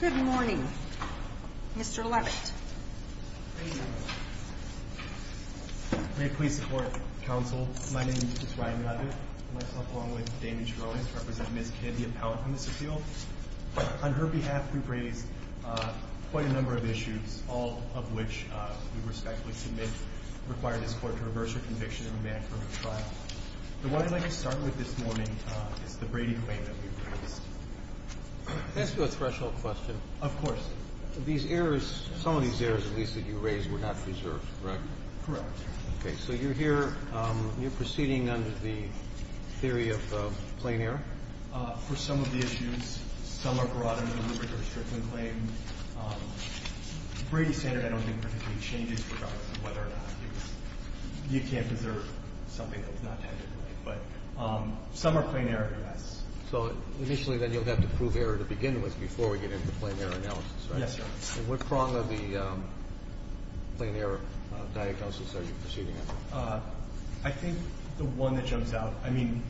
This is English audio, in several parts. Good morning, Mr. Leavitt. May it please the Court, Counsel, my name is Ryan Leavitt. I myself, along with Damian Cheronez, represent Ms. Kidd, the appellant on this appeal. On her behalf, we've raised quite a number of issues, all of which we respectfully submit require this Court to reverse her conviction and remand her for trial. But what I'd like to start with this morning is the Brady claim that we've raised. Can I ask you a threshold question? Of course. These errors, some of these errors, at least, that you raised were not preserved, correct? Correct. Okay. So you're here, you're proceeding under the theory of plain error? For some of the issues, some are broader than the rigorous Strickland claim. Brady standard I don't think particularly changes regardless of whether or not you can't preserve something that's not technically. But some are plain error, yes. So initially then you'll have to prove error to begin with before we get into plain error analysis, right? Yes, Your Honor. And what prong of the plain error diagnosis are you proceeding under? I think the one that jumps out, I mean,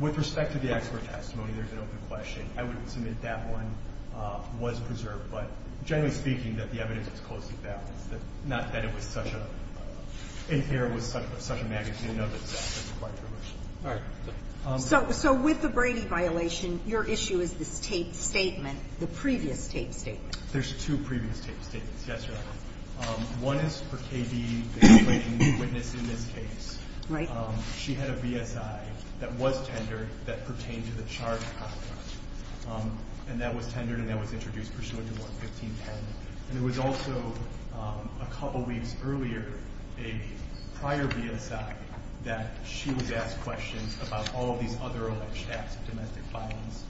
with respect to the expert testimony, there's an open question. I wouldn't submit that one was preserved. But generally speaking, that the evidence is closely balanced, that not that it was such a – in here it was such a magnitude note that it's actually quite provisional. All right. So with the Brady violation, your issue is the statement, the previous statement or the tape statement? There's two previous tape statements, yes, Your Honor. One is for K.B. explaining the witness in this case. Right. She had a BSI that was tendered that pertained to the charge of homicide. And that was tendered and that was introduced pursuant to Ward 1510. And it was also a couple weeks earlier, a prior BSI, that she was asked questions about all of these other alleged acts of domestic violence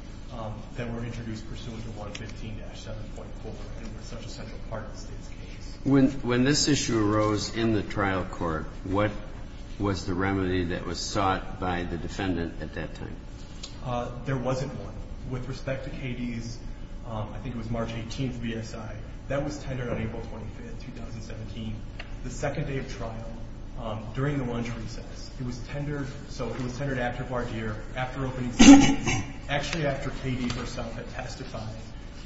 that were introduced pursuant to Ward 15-7.4. It was such a central part of the State's case. When this issue arose in the trial court, what was the remedy that was sought by the defendant at that time? There wasn't one. With respect to K.B.'s, I think it was March 18th BSI, that was tendered on April 25th, 2017, the second day of trial, during the lunch recess. It was tendered – so it was tendered after Bardeer, after opening session, actually after K.B. herself had testified.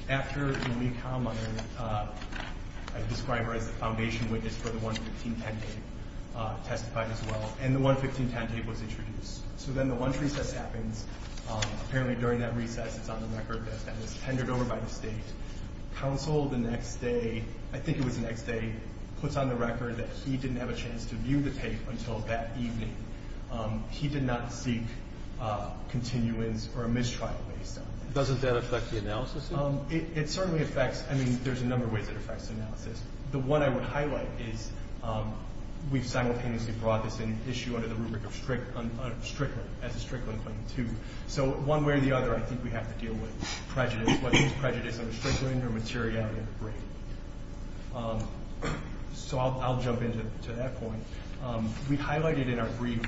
After Lee Kallmeier, I describe her as the foundation witness for the 11510 tape, testified as well. And the 11510 tape was introduced. So then the lunch recess happens. Apparently during that recess, it's on the record that it was tendered over by the State. Counsel the next day – I think it was the next day – puts on the record that he didn't have a chance to view the tape until that evening. He did not seek continuance or a mistrial based on it. Doesn't that affect the analysis? It certainly affects – I mean, there's a number of ways it affects the analysis. The one I would highlight is we've simultaneously brought this issue under the rubric of strickling, as a strickling claim, too. So one way or the other, I think we have to deal with prejudice, whether it's prejudice under strickling or materiality of the brief. So I'll jump into that point. We highlighted in our brief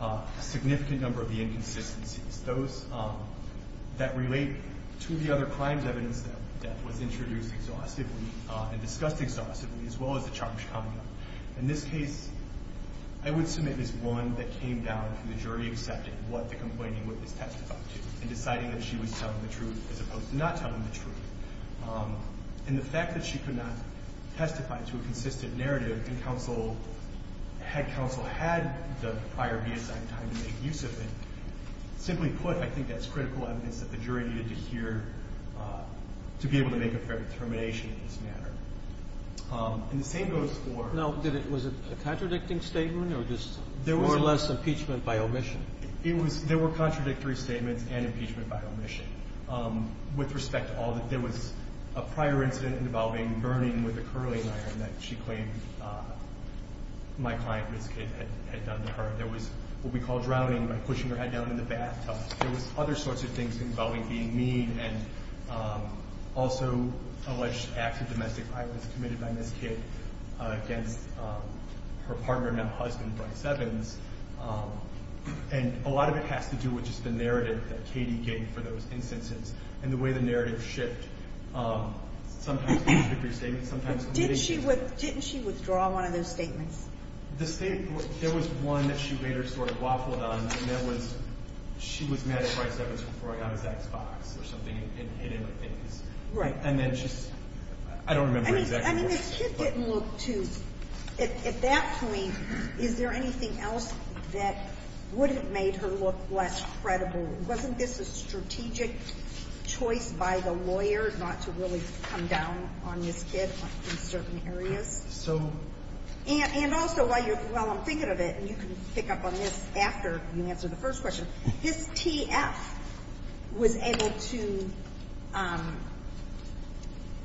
a significant number of the inconsistencies. Those that relate to the other crimes evidence that was introduced exhaustively and discussed exhaustively, as well as the charge coming up. In this case, I would submit it's one that came down to the jury accepting what the complaining witness testified to and deciding that she was telling the truth as opposed to not telling the truth. And the fact that she could not testify to a consistent narrative and counsel – had counsel had the prior reassigned time to make use of it, simply put, I think that's critical evidence that the jury needed to hear to be able to make a fair determination in this matter. And the same goes for – Now, did it – was it a contradicting statement or just – There were less impeachment by omission. It was – there were contradictory statements and impeachment by omission with respect to all that there was a prior incident involving burning with a curling iron that she claimed my client, Ms. Kidd, had done to her. There was what we call drowning by pushing her head down in the bathtub. There was other sorts of things involving being mean and also alleged acts of domestic violence committed by Ms. Kidd against her partner, now husband, Bryce Evans. And a lot of it has to do with just the narrative that Katie gave for those instances and the way the narrative shifted. Sometimes contradictory statements, sometimes – Didn't she withdraw one of those statements? The statement – there was one that she later sort of waffled on, and that was she was mad at Bryce Evans for throwing out his Xbox or something and hit him with things. Right. And then she – I don't remember exactly what – I mean, Ms. Kidd didn't look to – at that point, is there anything else that would have made her look less credible? Wasn't this a strategic choice by the lawyer not to really come down on Ms. Kidd in certain areas? So – And also, while you're – while I'm thinking of it, and you can pick up on this after you answer the first question, this TF was able to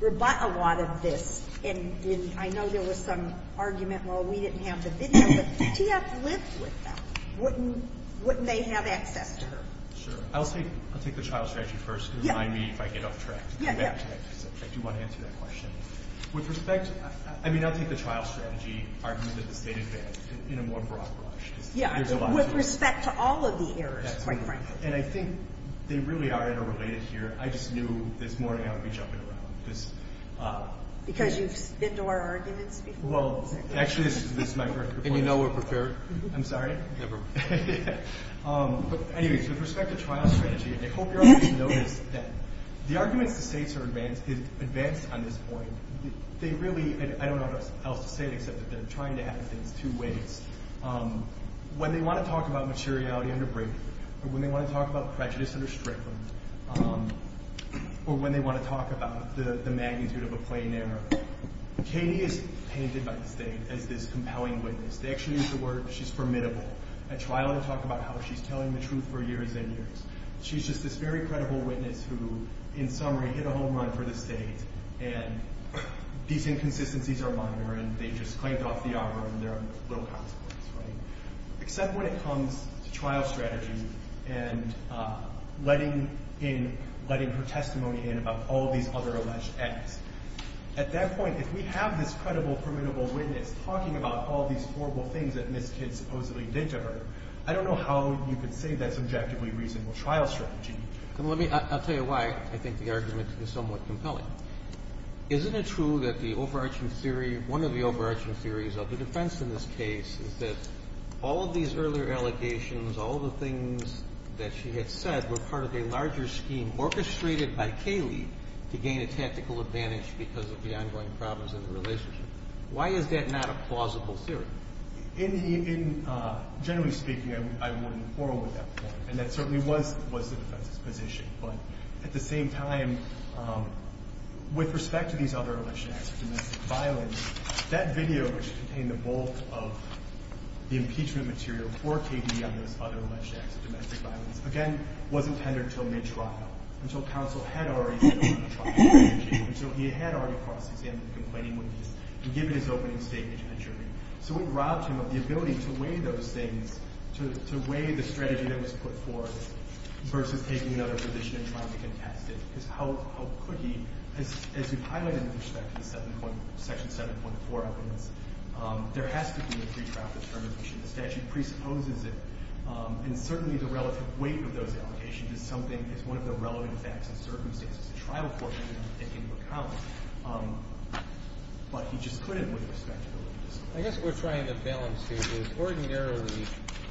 rebut a lot of this. And I know there was some argument, well, we didn't have the video, but TF lived with that. Wouldn't – wouldn't they have access to her? Sure. I'll say – I'll take the trial strategy first. Yeah. Remind me if I get off track. Yeah, yeah. I do want to answer that question. With respect – I mean, I'll take the trial strategy argument of the state advantage in a more broad brush. Yeah. With respect to all of the errors, quite frankly. And I think they really are interrelated here. I just knew this morning I would be jumping around because – Because you've been to our arguments before? Well, actually, this is my first report. And you know we're prepared. I'm sorry? Never. Yeah. But anyway, so with respect to trial strategy, I hope you're able to notice that the arguments the states are advanced on this point, they really – and I don't know what else to say except that they're trying to have things two ways. When they want to talk about materiality under Brady, or when they want to talk about prejudice under Strickland, or when they want to talk about the magnitude of a plain error, Katie is painted by the state as this compelling witness. They actually use the word she's formidable at trial to talk about how she's telling the truth for years and years. She's just this very credible witness who, in summary, hit a home run for the state, and these inconsistencies are minor and they just clamped off the hour and there are little consequences. Except when it comes to trial strategy and letting in – letting her testimony in about all these other alleged acts. At that point, if we have this credible, formidable witness talking about all these horrible things that Ms. Kidd supposedly did to her, I don't know how you could say that's objectively reasonable trial strategy. Then let me – I'll tell you why I think the argument is somewhat compelling. Isn't it true that the overarching theory – one of the overarching theories of the defense in this case is that all of these earlier allegations, all the things that she had said were part of a larger scheme orchestrated by Cayley to gain a tactical advantage because of the ongoing problems in the relationship? Why is that not a plausible theory? In – generally speaking, I wouldn't quarrel with that point, and that certainly was the defense's position. But at the same time, with respect to these other alleged acts of domestic violence, that video, which contained the bulk of the impeachment material for Cayley on those other alleged acts of domestic violence, again, wasn't tendered until mid-trial, until counsel had already filed a trial strategy, and so he had already cross-examined the complaining witnesses and given his opening statement to the jury. So it robbed him of the ability to weigh those things, to weigh the strategy that was put forth, versus taking another position and trying to contest it, because how could he? As we've highlighted with respect to the 7.1 – Section 7.4 evidence, there has to be a pre-trial determination. The statute presupposes it, and certainly the relative weight of those allegations is something – is something that the defense can take into account. But he just couldn't with respect to the litigants. I guess what we're trying to balance here is ordinarily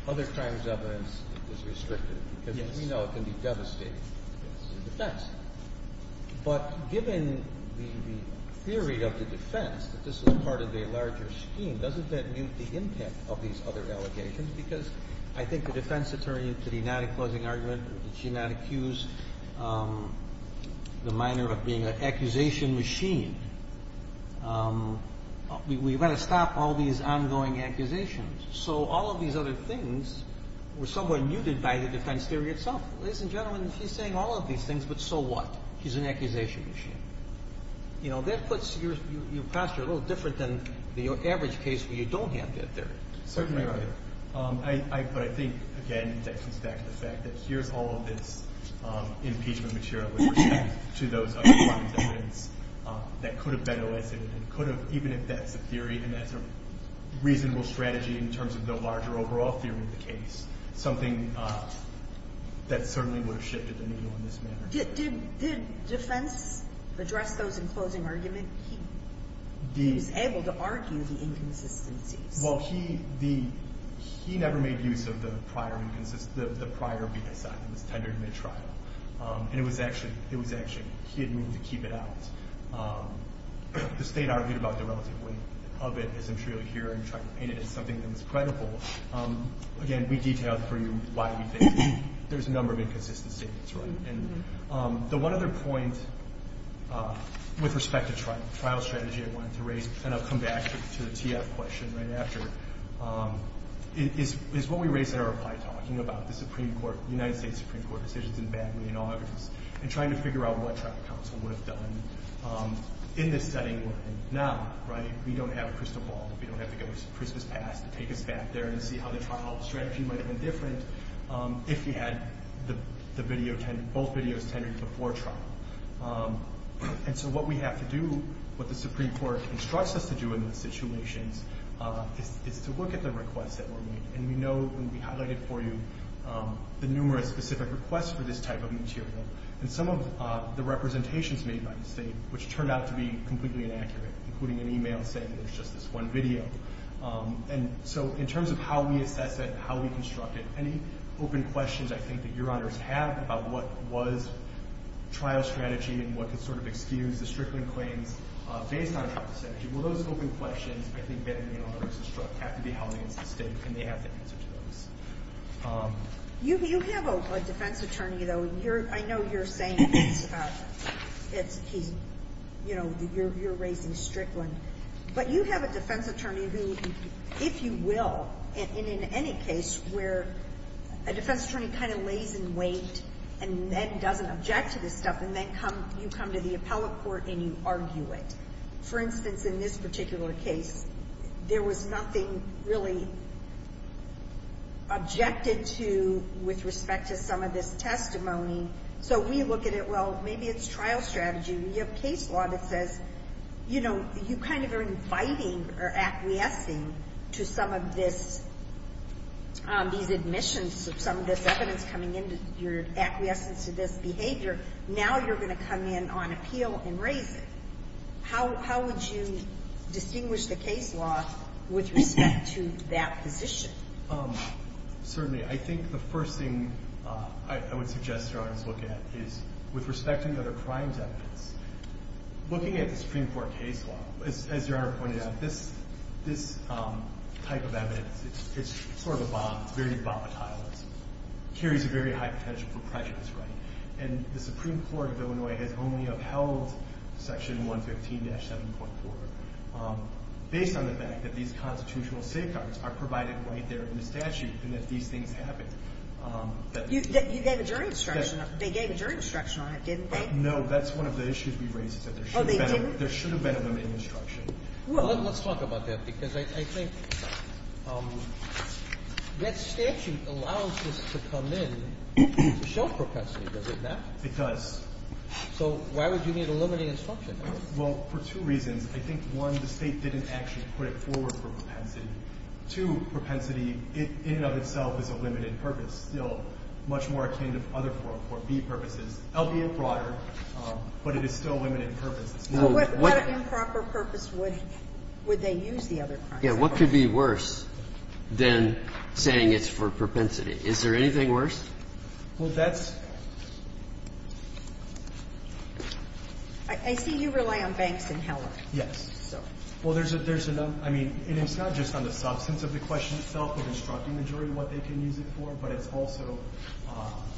other crimes evidence is restricted. Yes. Because we know it can be devastating to the defense. But given the theory of the defense that this was part of a larger scheme, doesn't that mute the impact of these other allegations? Because I think the defense attorney, to the non-enclosing argument, did she not accuse the minor of being an accusation machine? We've got to stop all these ongoing accusations. So all of these other things were somewhat muted by the defense theory itself. Ladies and gentlemen, she's saying all of these things, but so what? She's an accusation machine. You know, that puts your posture a little different than the average case where you don't have that theory. Certainly right. But I think, again, that comes back to the fact that here's all of this impeachment material with respect to those other crimes evidence that could have been elicited and could have, even if that's a theory and that's a reasonable strategy in terms of the larger overall theory of the case, something that certainly would have shifted the needle in this matter. Did defense address those enclosing arguments? He was able to argue the inconsistencies. Well, he never made use of the prior BSI. It was tendered mid-trial, and it was actually hidden to keep it out. The state argued about the relative weight of it, as I'm sure you'll hear, and tried to paint it as something that was credible. Again, we detailed for you why we think there's a number of inconsistencies. The one other point with respect to trial strategy I wanted to raise, and I'll come back to the TF question right after, is what we raised in our reply talking about the Supreme Court, the United States Supreme Court decisions in Bagley and August, and trying to figure out what trial counsel would have done in this setting now. We don't have a crystal ball. We don't have to go to Christmas Pass to take us back there and see how the trial strategy might have been different if we had both videos tendered before trial. And so what we have to do, what the Supreme Court instructs us to do in these situations, is to look at the requests that were made. And we know, and we highlighted for you, the numerous specific requests for this type of material and some of the representations made by the state, which turned out to be completely inaccurate, including an email saying there's just this one video. And so in terms of how we assess it and how we construct it, any open questions I think that your honors have about what was trial strategy and what could sort of excuse the Strickland claims based on trial strategy? Will those open questions, I think, have to be held against the state and they have to answer to those. You have a defense attorney, though. I know you're saying you're raising Strickland. But you have a defense attorney who, if you will, and in any case where a defense attorney kind of lays in wait and then doesn't object to this stuff, and then you come to the appellate court and you argue it. For instance, in this particular case, there was nothing really objected to with respect to some of this testimony. So we look at it, well, maybe it's trial strategy. We have case law that says, you know, you're inviting or acquiescing to some of these admissions, some of this evidence coming into your acquiescence to this behavior. Now you're going to come in on appeal and raise it. How would you distinguish the case law with respect to that position? Certainly. I think the first thing I would suggest your honors look at is, with respect to the other crimes evidence, looking at the Supreme Court case law, as your honor pointed out, this type of evidence is sort of a bomb. It's very volatile. It carries a very high potential for prejudice, right? And the Supreme Court of Illinois has only upheld Section 115-7.4 based on the fact that these constitutional safeguards are provided right there in the statute and that these things happen. You gave a jury instruction. They gave a jury instruction on it, didn't they? No. That's one of the issues we raised. Oh, they didn't? There should have been a limiting instruction. Well, let's talk about that because I think that statute allows this to come in to show propensity. Does it not? It does. So why would you need a limiting instruction? Well, for two reasons. I think, one, the State didn't actually put it forward for propensity. Two, propensity in and of itself is a limited purpose, still much more akin to other 404B purposes, albeit broader, but it is still a limited purpose. What improper purpose would they use the other crimes for? Yeah. What could be worse than saying it's for propensity? Is there anything worse? Well, that's – I see you rely on banks and Heller. Yes. Well, there's a number. I mean, and it's not just on the substance of the question itself of instructing the jury what they can use it for, but it's also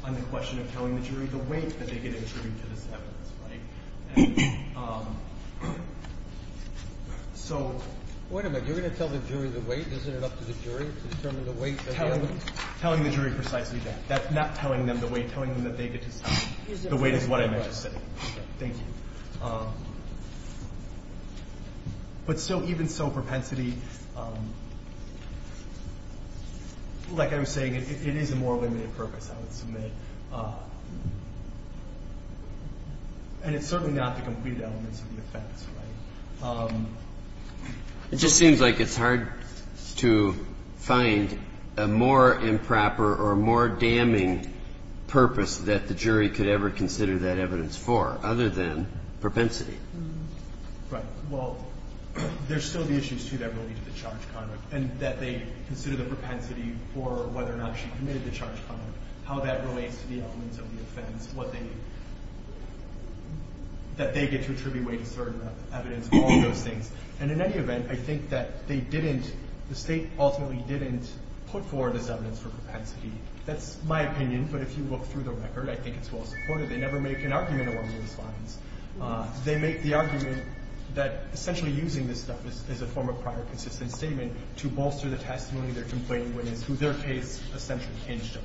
on the question of telling the jury the weight that they get attributed to this evidence, right? And so – Wait a minute. You're going to tell the jury the weight? Isn't it up to the jury to determine the weight that they get? Telling the jury precisely that. Not telling them the weight. Telling them that they get to decide. The weight is what I meant to say. Okay. Thank you. But still, even so, propensity, like I was saying, it is a more limited purpose, I would submit, and it's certainly not the completed elements of the offense, right? It just seems like it's hard to find a more improper or a more damning purpose that the jury could ever consider that evidence for other than propensity. Right. Well, there's still the issues, too, that relate to the charge conduct and that they consider the propensity for whether or not she committed the charge conduct, how that relates to the elements of the offense, what they – that they get to attribute weight to certain evidence, all those things. And in any event, I think that they didn't – the State ultimately didn't put forward this evidence for propensity. That's my opinion, but if you look through the record, I think it's well supported. They never make an argument along those lines. They make the argument that essentially using this stuff as a form of prior consistent statement to bolster the testimony of their complaining witness, who their case essentially hinged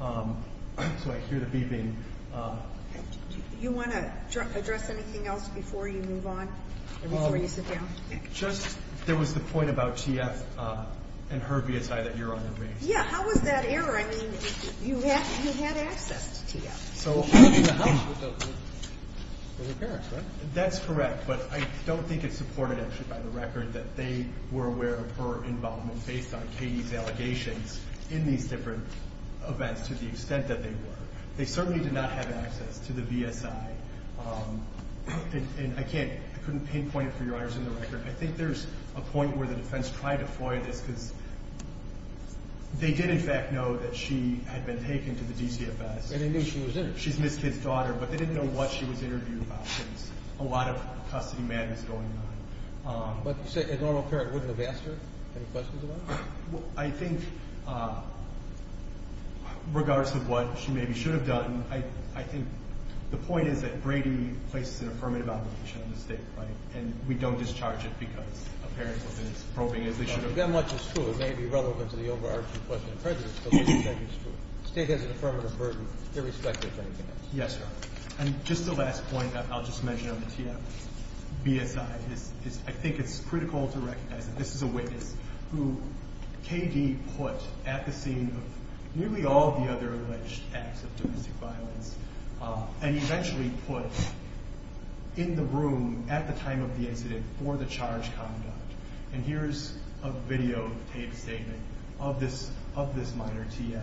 on. So I hear the beeping. Do you want to address anything else before you move on, before you sit down? Just – there was the point about T.F. and her BSI that you're on the case. Yeah. How was that error? I mean, you had access to T.F. So – It was her parents, right? That's correct. But I don't think it's supported actually by the record that they were aware of her involvement based on Katie's allegations in these different events to the extent that they were. They certainly did not have access to the BSI. And I can't – I couldn't pinpoint it for your honors in the record. I think there's a point where the defense tried to foil this because they did in fact know that she had been taken to the DCFS. And they knew she was interviewed. She's Ms. Kidd's daughter, but they didn't know what she was interviewed about. And there's a lot of custody madness going on. But you say a normal parent wouldn't have asked her any questions about it? I think regardless of what she maybe should have done, I think the point is that Brady places an affirmative obligation on the state, right? And we don't discharge it because a parent is probing as they should have. That much is true. It may be relevant to the overarching question of prejudice, but that much is true. The state has an affirmative burden irrespective of anything else. Yes, Your Honor. And just the last point I'll just mention on the TF, BSI. I think it's critical to recognize that this is a witness who K.D. put at the scene of nearly all of the other alleged acts of domestic violence and eventually put in the room at the time of the incident for the charged conduct. And here is a videotaped statement of this minor TF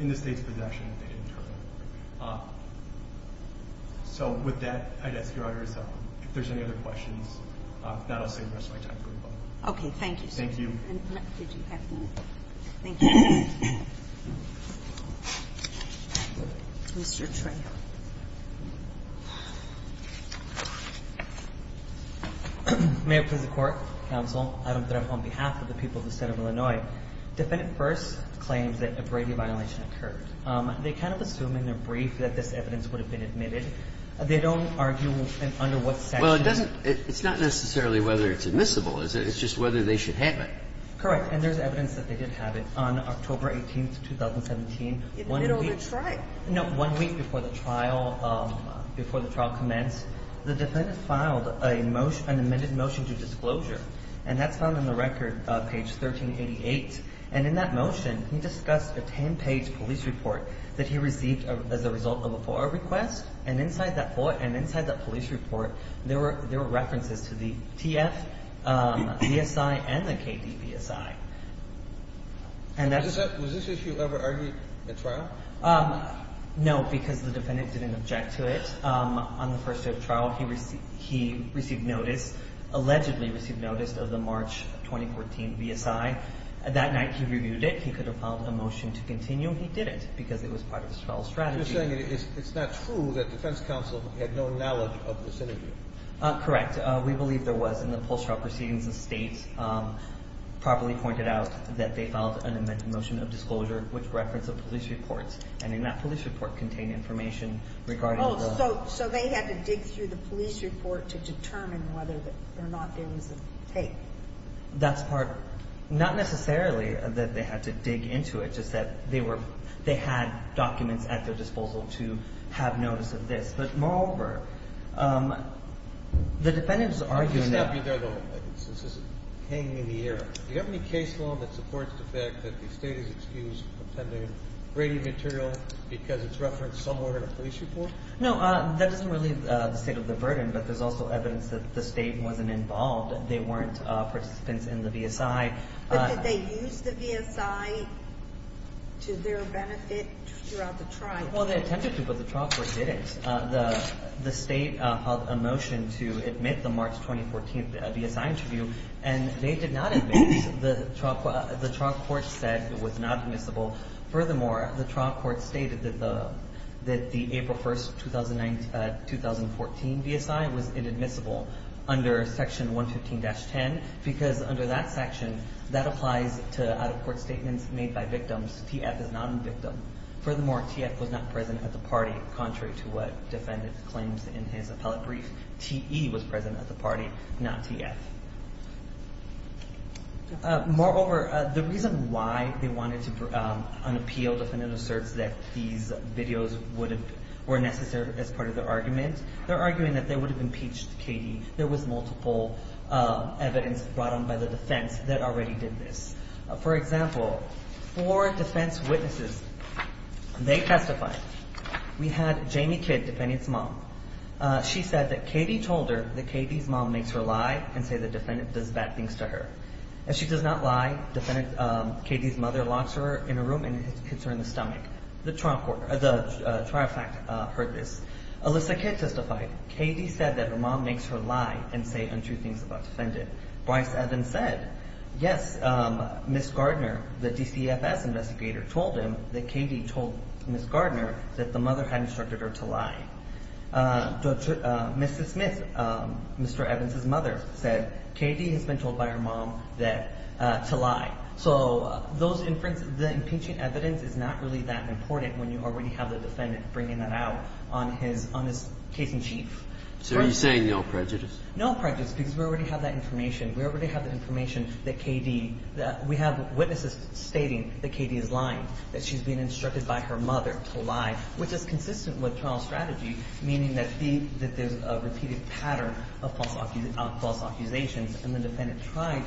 in the state's possession. So with that, I'd ask Your Honor, if there's any other questions, then I'll save the rest of my time for the public. Okay. Thank you. Thank you. Thank you. Mr. Trejo. May it please the Court, Counsel, Adam Trejo, on behalf of the people of the State of Illinois, defendant first claims that a Brady violation occurred. They kind of assume in their brief that this evidence would have been admitted. They don't argue under what section. Well, it doesn't – it's not necessarily whether it's admissible. It's just whether they should have it. Correct. And there's evidence that they did have it. On October 18th, 2017, one week before the trial, before the trial commenced, the defendant filed a motion, an amended motion to disclosure. And that's found in the record, page 1388. And in that motion, he discussed a 10-page police report that he received as a result of a FOIA request. And inside that FOIA and inside that police report, there were references to the TF, BSI, and the KDBSI. Was this issue ever argued at trial? No, because the defendant didn't object to it. On the first day of trial, he received notice, allegedly received notice, of the March 2014 BSI. That night he reviewed it. He could have filed a motion to continue. He didn't because it was part of his trial strategy. You're saying it's not true that defense counsel had no knowledge of this interview? Correct. We believe there was in the post-trial proceedings. The State properly pointed out that they filed an amended motion of disclosure with reference to police reports. And in that police report contained information regarding the – So they had to dig through the police report to determine whether or not there was a tape. That's part – not necessarily that they had to dig into it, just that they were – they had documents at their disposal to have notice of this. But moreover, the defendant was arguing that – I'm just going to stop you there, though, since this is hanging in the air. Do you have any case law that supports the fact that the State is excused from attending Brady material because it's referenced somewhere in a police report? No. That doesn't relieve the state of the burden, but there's also evidence that the State wasn't involved. They weren't participants in the VSI. But did they use the VSI to their benefit throughout the trial? Well, they attempted to, but the trial court didn't. The State held a motion to admit the March 2014 VSI interview, and they did not admit it. The trial court said it was not admissible. Furthermore, the trial court stated that the April 1, 2014 VSI was inadmissible under Section 115-10 because under that section, that applies to out-of-court statements made by victims. TF is not a victim. Furthermore, TF was not present at the party, contrary to what the defendant claims in his appellate brief. TE was present at the party, not TF. Moreover, the reason why they wanted to unappeal defendant asserts that these videos were necessary as part of their argument. They're arguing that they would have impeached Katie. There was multiple evidence brought on by the defense that already did this. For example, four defense witnesses, they testified. We had Jamie Kidd, defendant's mom. She said that Katie told her that Katie's mom makes her lie and say the defendant does bad things to her. If she does not lie, Katie's mother locks her in a room and hits her in the stomach. The trial fact heard this. Alyssa Kidd testified. Katie said that her mom makes her lie and say untrue things about defendant. Bryce Evans said, yes, Ms. Gardner, the DCFS investigator, told him that Katie told Ms. Gardner that the mother had instructed her to lie. Mrs. Smith, Mr. Evans' mother, said Katie has been told by her mom that to lie. So those inference, the impeaching evidence is not really that important when you already have the defendant bringing that out on his case in chief. So are you saying no prejudice? No prejudice because we already have that information. We already have the information that Katie – we have witnesses stating that Katie is lying, that she's been instructed by her mother to lie, which is consistent with trial strategy, meaning that there's a repeated pattern of false accusations. And the defendant tried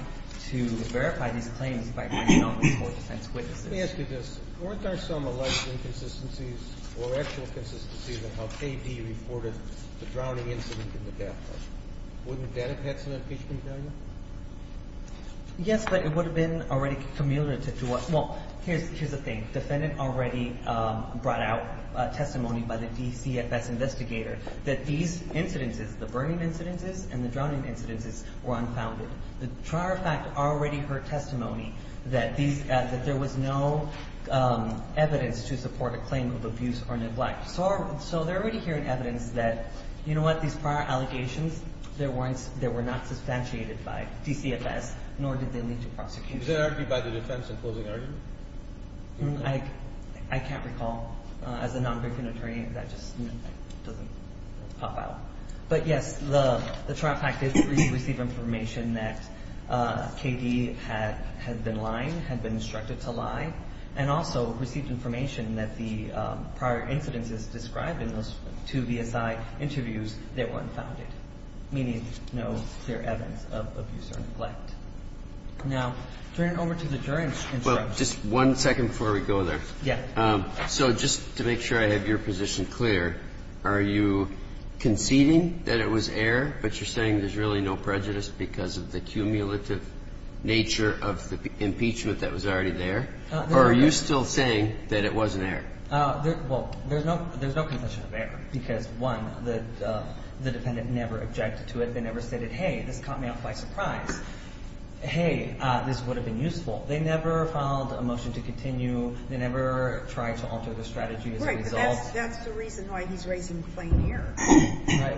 to verify these claims by bringing on these court defense witnesses. Let me ask you this. Weren't there some alleged inconsistencies or actual consistencies in how Katie reported the drowning incident in the death house? Wouldn't that have had some impeachment value? Yes, but it would have been already familiar to – well, here's the thing. The defendant already brought out testimony by the DCFS investigator that these incidences, the burning incidences and the drowning incidences, were unfounded. The trier of fact already heard testimony that there was no evidence to support a claim of abuse or neglect. So they're already hearing evidence that, you know what, these prior allegations, they were not substantiated by DCFS, nor did they lead to prosecution. Was that argued by the defense in closing argument? I can't recall. As a non-victim attorney, that just doesn't pop out. But, yes, the trier of fact did receive information that Katie had been lying, had been instructed to lie, and also received information that the prior incidences described in those two VSI interviews, they were unfounded, meaning no clear evidence of abuse or neglect. Now, turning over to the jury instruction. Well, just one second before we go there. Yes. So just to make sure I have your position clear, are you conceding that it was error, but you're saying there's really no prejudice because of the cumulative nature of the impeachment that was already there? Or are you still saying that it was an error? Well, there's no concession of error because, one, the defendant never objected to it. They never said, hey, this caught me off by surprise. Hey, this would have been useful. They never filed a motion to continue. They never tried to alter the strategy as a result. Right, but that's the reason why he's raising plain error.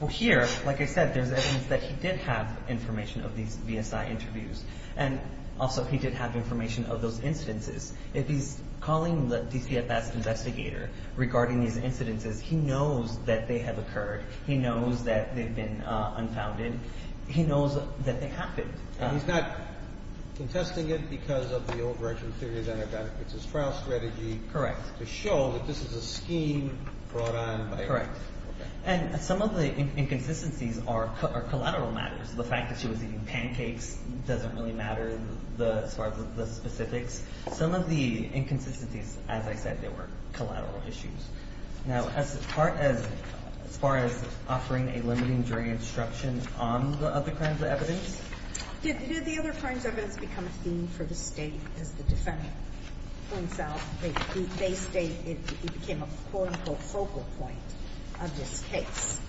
Well, here, like I said, there's evidence that he did have information of these VSI interviews, and also he did have information of those incidences. If he's calling the DCFS investigator regarding these incidences, he knows that they have occurred. He knows that they've been unfounded. He knows that they happened. And he's not contesting it because of the old-version theory that it benefits his trial strategy. Correct. To show that this is a scheme brought on by him. Correct. And some of the inconsistencies are collateral matters. The fact that she was eating pancakes doesn't really matter as far as the specifics. Some of the inconsistencies, as I said, they were collateral issues. Now, as far as offering a limiting jury instruction on the other crimes of evidence? Did the other crimes of evidence become a theme for the State as the defendant points out? They state it became a quote-unquote focal point of this case.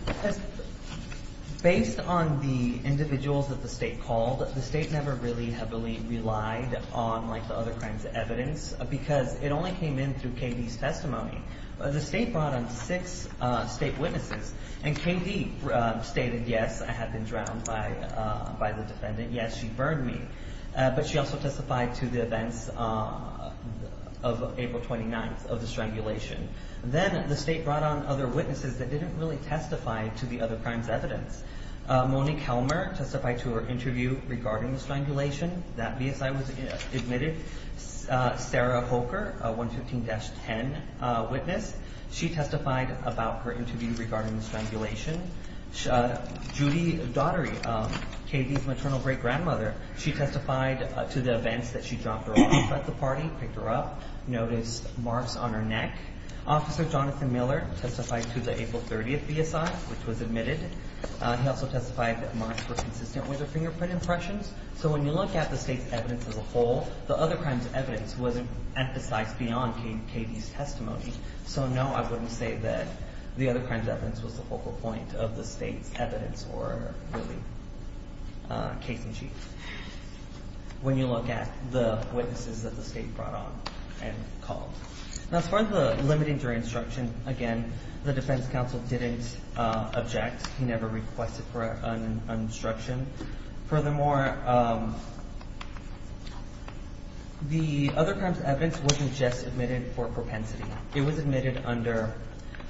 Based on the individuals that the State called, the State never really heavily relied on, like, the other crimes of evidence because it only came in through K.D.'s testimony. The State brought on six State witnesses, and K.D. stated, yes, I had been drowned by the defendant. Yes, she burned me. But she also testified to the events of April 29th of the strangulation. Then the State brought on other witnesses that didn't really testify to the other crimes of evidence. Monique Helmer testified to her interview regarding the strangulation. That BSI was admitted. Sarah Hoker, 115-10 witness, she testified about her interview regarding the strangulation. Judy Daughtery, K.D.'s maternal great-grandmother, she testified to the events that she dropped her off at the party, picked her up, noticed marks on her neck. Officer Jonathan Miller testified to the April 30th BSI, which was admitted. He also testified that marks were consistent with her fingerprint impressions. So when you look at the State's evidence as a whole, the other crimes of evidence wasn't emphasized beyond K.D.'s testimony. So, no, I wouldn't say that the other crimes of evidence was the focal point of the State's evidence or really case in chief when you look at the witnesses that the State brought on and called. As far as the limiting jury instruction, again, the defense counsel didn't object. He never requested for an instruction. Furthermore, the other crimes of evidence wasn't just admitted for propensity. It was admitted under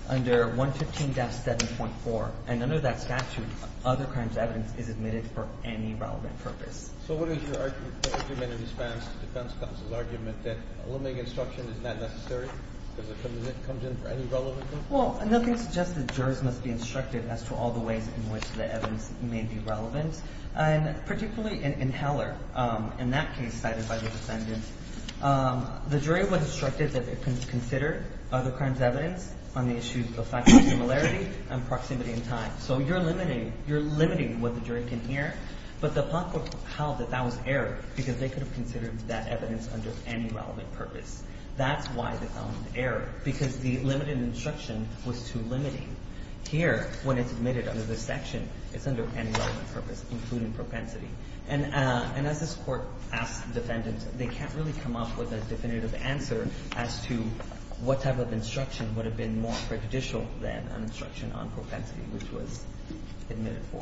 115-7.4, and under that statute, other crimes of evidence is admitted for any relevant purpose. So what is your argument in defense counsel's argument that a limiting instruction is not necessary because it comes in for any relevant purpose? Well, nothing suggests that jurors must be instructed as to all the ways in which the evidence may be relevant. And particularly in Heller, in that case cited by the defendant, the jury was instructed that they consider other crimes of evidence on the issues of factual similarity and proximity in time. So you're limiting what the jury can hear, but the public held that that was error because they could have considered that evidence under any relevant purpose. That's why they found error, because the limited instruction was too limiting. Here, when it's admitted under this section, it's under any relevant purpose, including propensity. And as this Court asked the defendants, they can't really come up with a definitive answer as to what type of instruction would have been more prejudicial than an instruction on propensity, which was admitted for.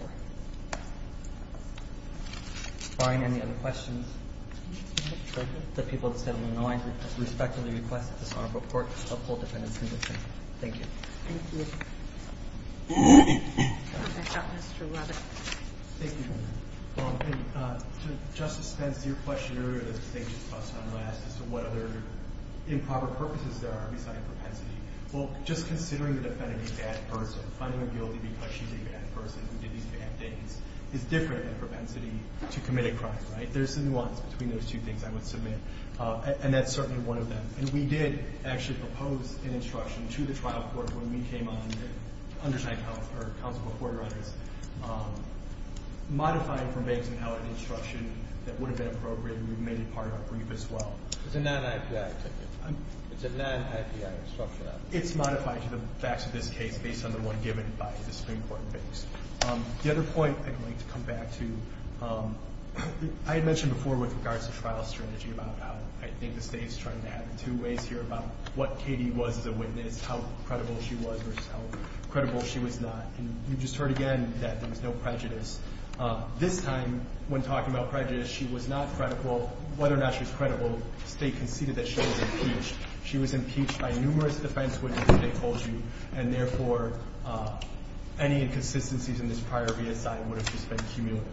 Fine. Any other questions? The people of the Settlement Alliance respectfully request that this Honorable Court uphold defendant's conviction. Thank you. Thank you. Back up, Mr. Lubbock. Thank you, Your Honor. To Justice Spence, your question earlier that I think she touched on last as to what other improper purposes there are besides propensity. Well, just considering the defendant a bad person, finding her guilty because she's a bad person who did these bad things, is different than propensity to commit a crime, right? There's a nuance between those two things I would submit. And that's certainly one of them. And we did actually propose an instruction to the trial court when we came on to understand how our counsel reported on this. Modifying from banks and how an instruction that would have been appropriate, we made it part of our brief as well. It's a non-IPI ticket. It's a non-IPI instruction. It's modified to the facts of this case based on the one given by the Supreme Court in banks. The other point I'd like to come back to, I had mentioned before with regards to trial strategy about how I think the State is trying to have two ways here about what Katie was as a witness, how credible she was versus how credible she was not. And you just heard again that there was no prejudice. This time, when talking about prejudice, she was not credible. Whether or not she was credible, the State conceded that she was impeached. She was impeached by numerous defense witnesses, they told you. And therefore, any inconsistencies in this prior reassignment would have just been cumulative.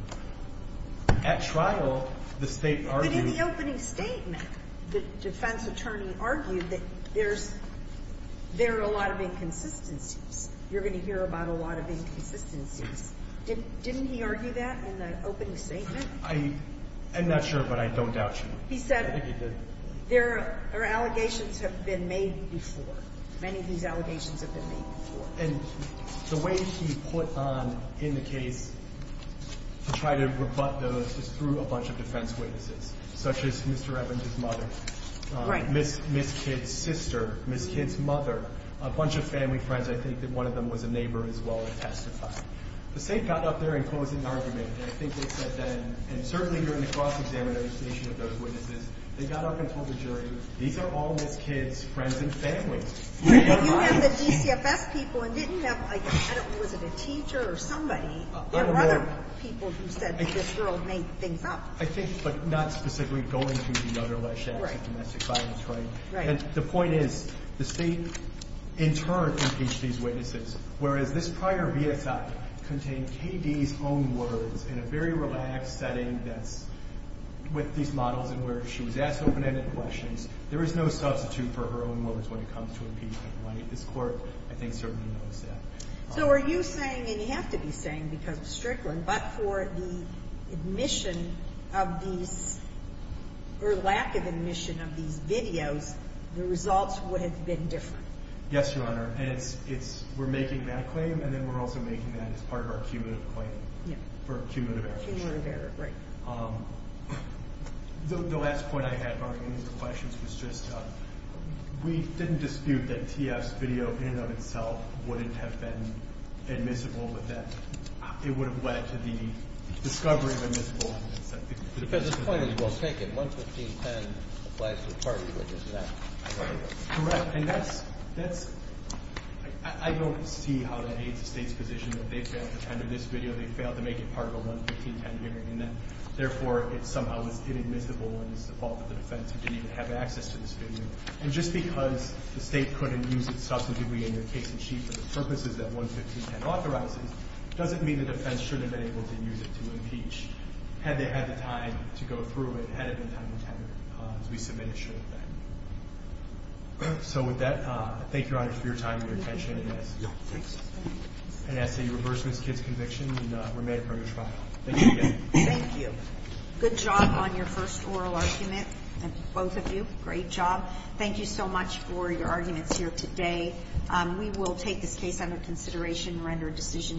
At trial, the State argued... But in the opening statement, the defense attorney argued that there's a lot of inconsistencies. You're going to hear about a lot of inconsistencies. Didn't he argue that in the opening statement? I'm not sure, but I don't doubt you. He said there are allegations that have been made before. Many of these allegations have been made before. And the way he put on in the case to try to rebut those is through a bunch of defense witnesses, such as Mr. Evans' mother, Miss Kidd's sister, Miss Kidd's mother, a bunch of family friends. I think that one of them was a neighbor as well that testified. The State got up there and closed an argument. And I think they said then, and certainly during the cross-examination of those witnesses, they got up and told the jury, these are all Miss Kidd's friends and family. But you have the DCFS people and didn't have, I don't know, was it a teacher or somebody? There were other people who said that this girl made things up. I think, but not specifically going through the other less-than-experienced domestic violence. And the point is the State, in turn, impeached these witnesses, whereas this prior VSI contained K.D.'s own words in a very relaxed setting that's with these models and where she was asked open-ended questions. There is no substitute for her own words when it comes to impeachment. This Court, I think, certainly knows that. So are you saying, and you have to be saying because of Strickland, but for the admission of these, or lack of admission of these videos, the results would have been different? Yes, Your Honor. And it's, we're making that claim and then we're also making that as part of our cumulative claim for cumulative action. Cumulative error, right. The last point I had regarding these questions was just, we didn't dispute that T.F.'s video in and of itself wouldn't have been admissible, but that it would have led to the discovery of admissible evidence. Because the point is we'll take it. 11510 applies to the parties, which is that. Correct. And that's, I don't see how that aids the State's position that they failed to tender this video, they failed to make it part of a 11510 hearing, and that, therefore, it somehow was inadmissible and it's the fault of the defense who didn't even have access to this video. And just because the State couldn't use it substantively in their case and sheet for the purposes that 11510 authorizes, doesn't mean the defense shouldn't have been able to use it to impeach, had they had the time to go through it, had it been time to tender it, as we submitted it should have been. So with that, thank you, Your Honor, for your time and your attention. Yes, thank you. And I see you've reversed Ms. Kidd's conviction and were made a permanent trial. Thank you again. Thank you. Good job on your first oral argument, and both of you, great job. Thank you so much for your arguments here today. We will take this case under consideration and render a decision in your favor.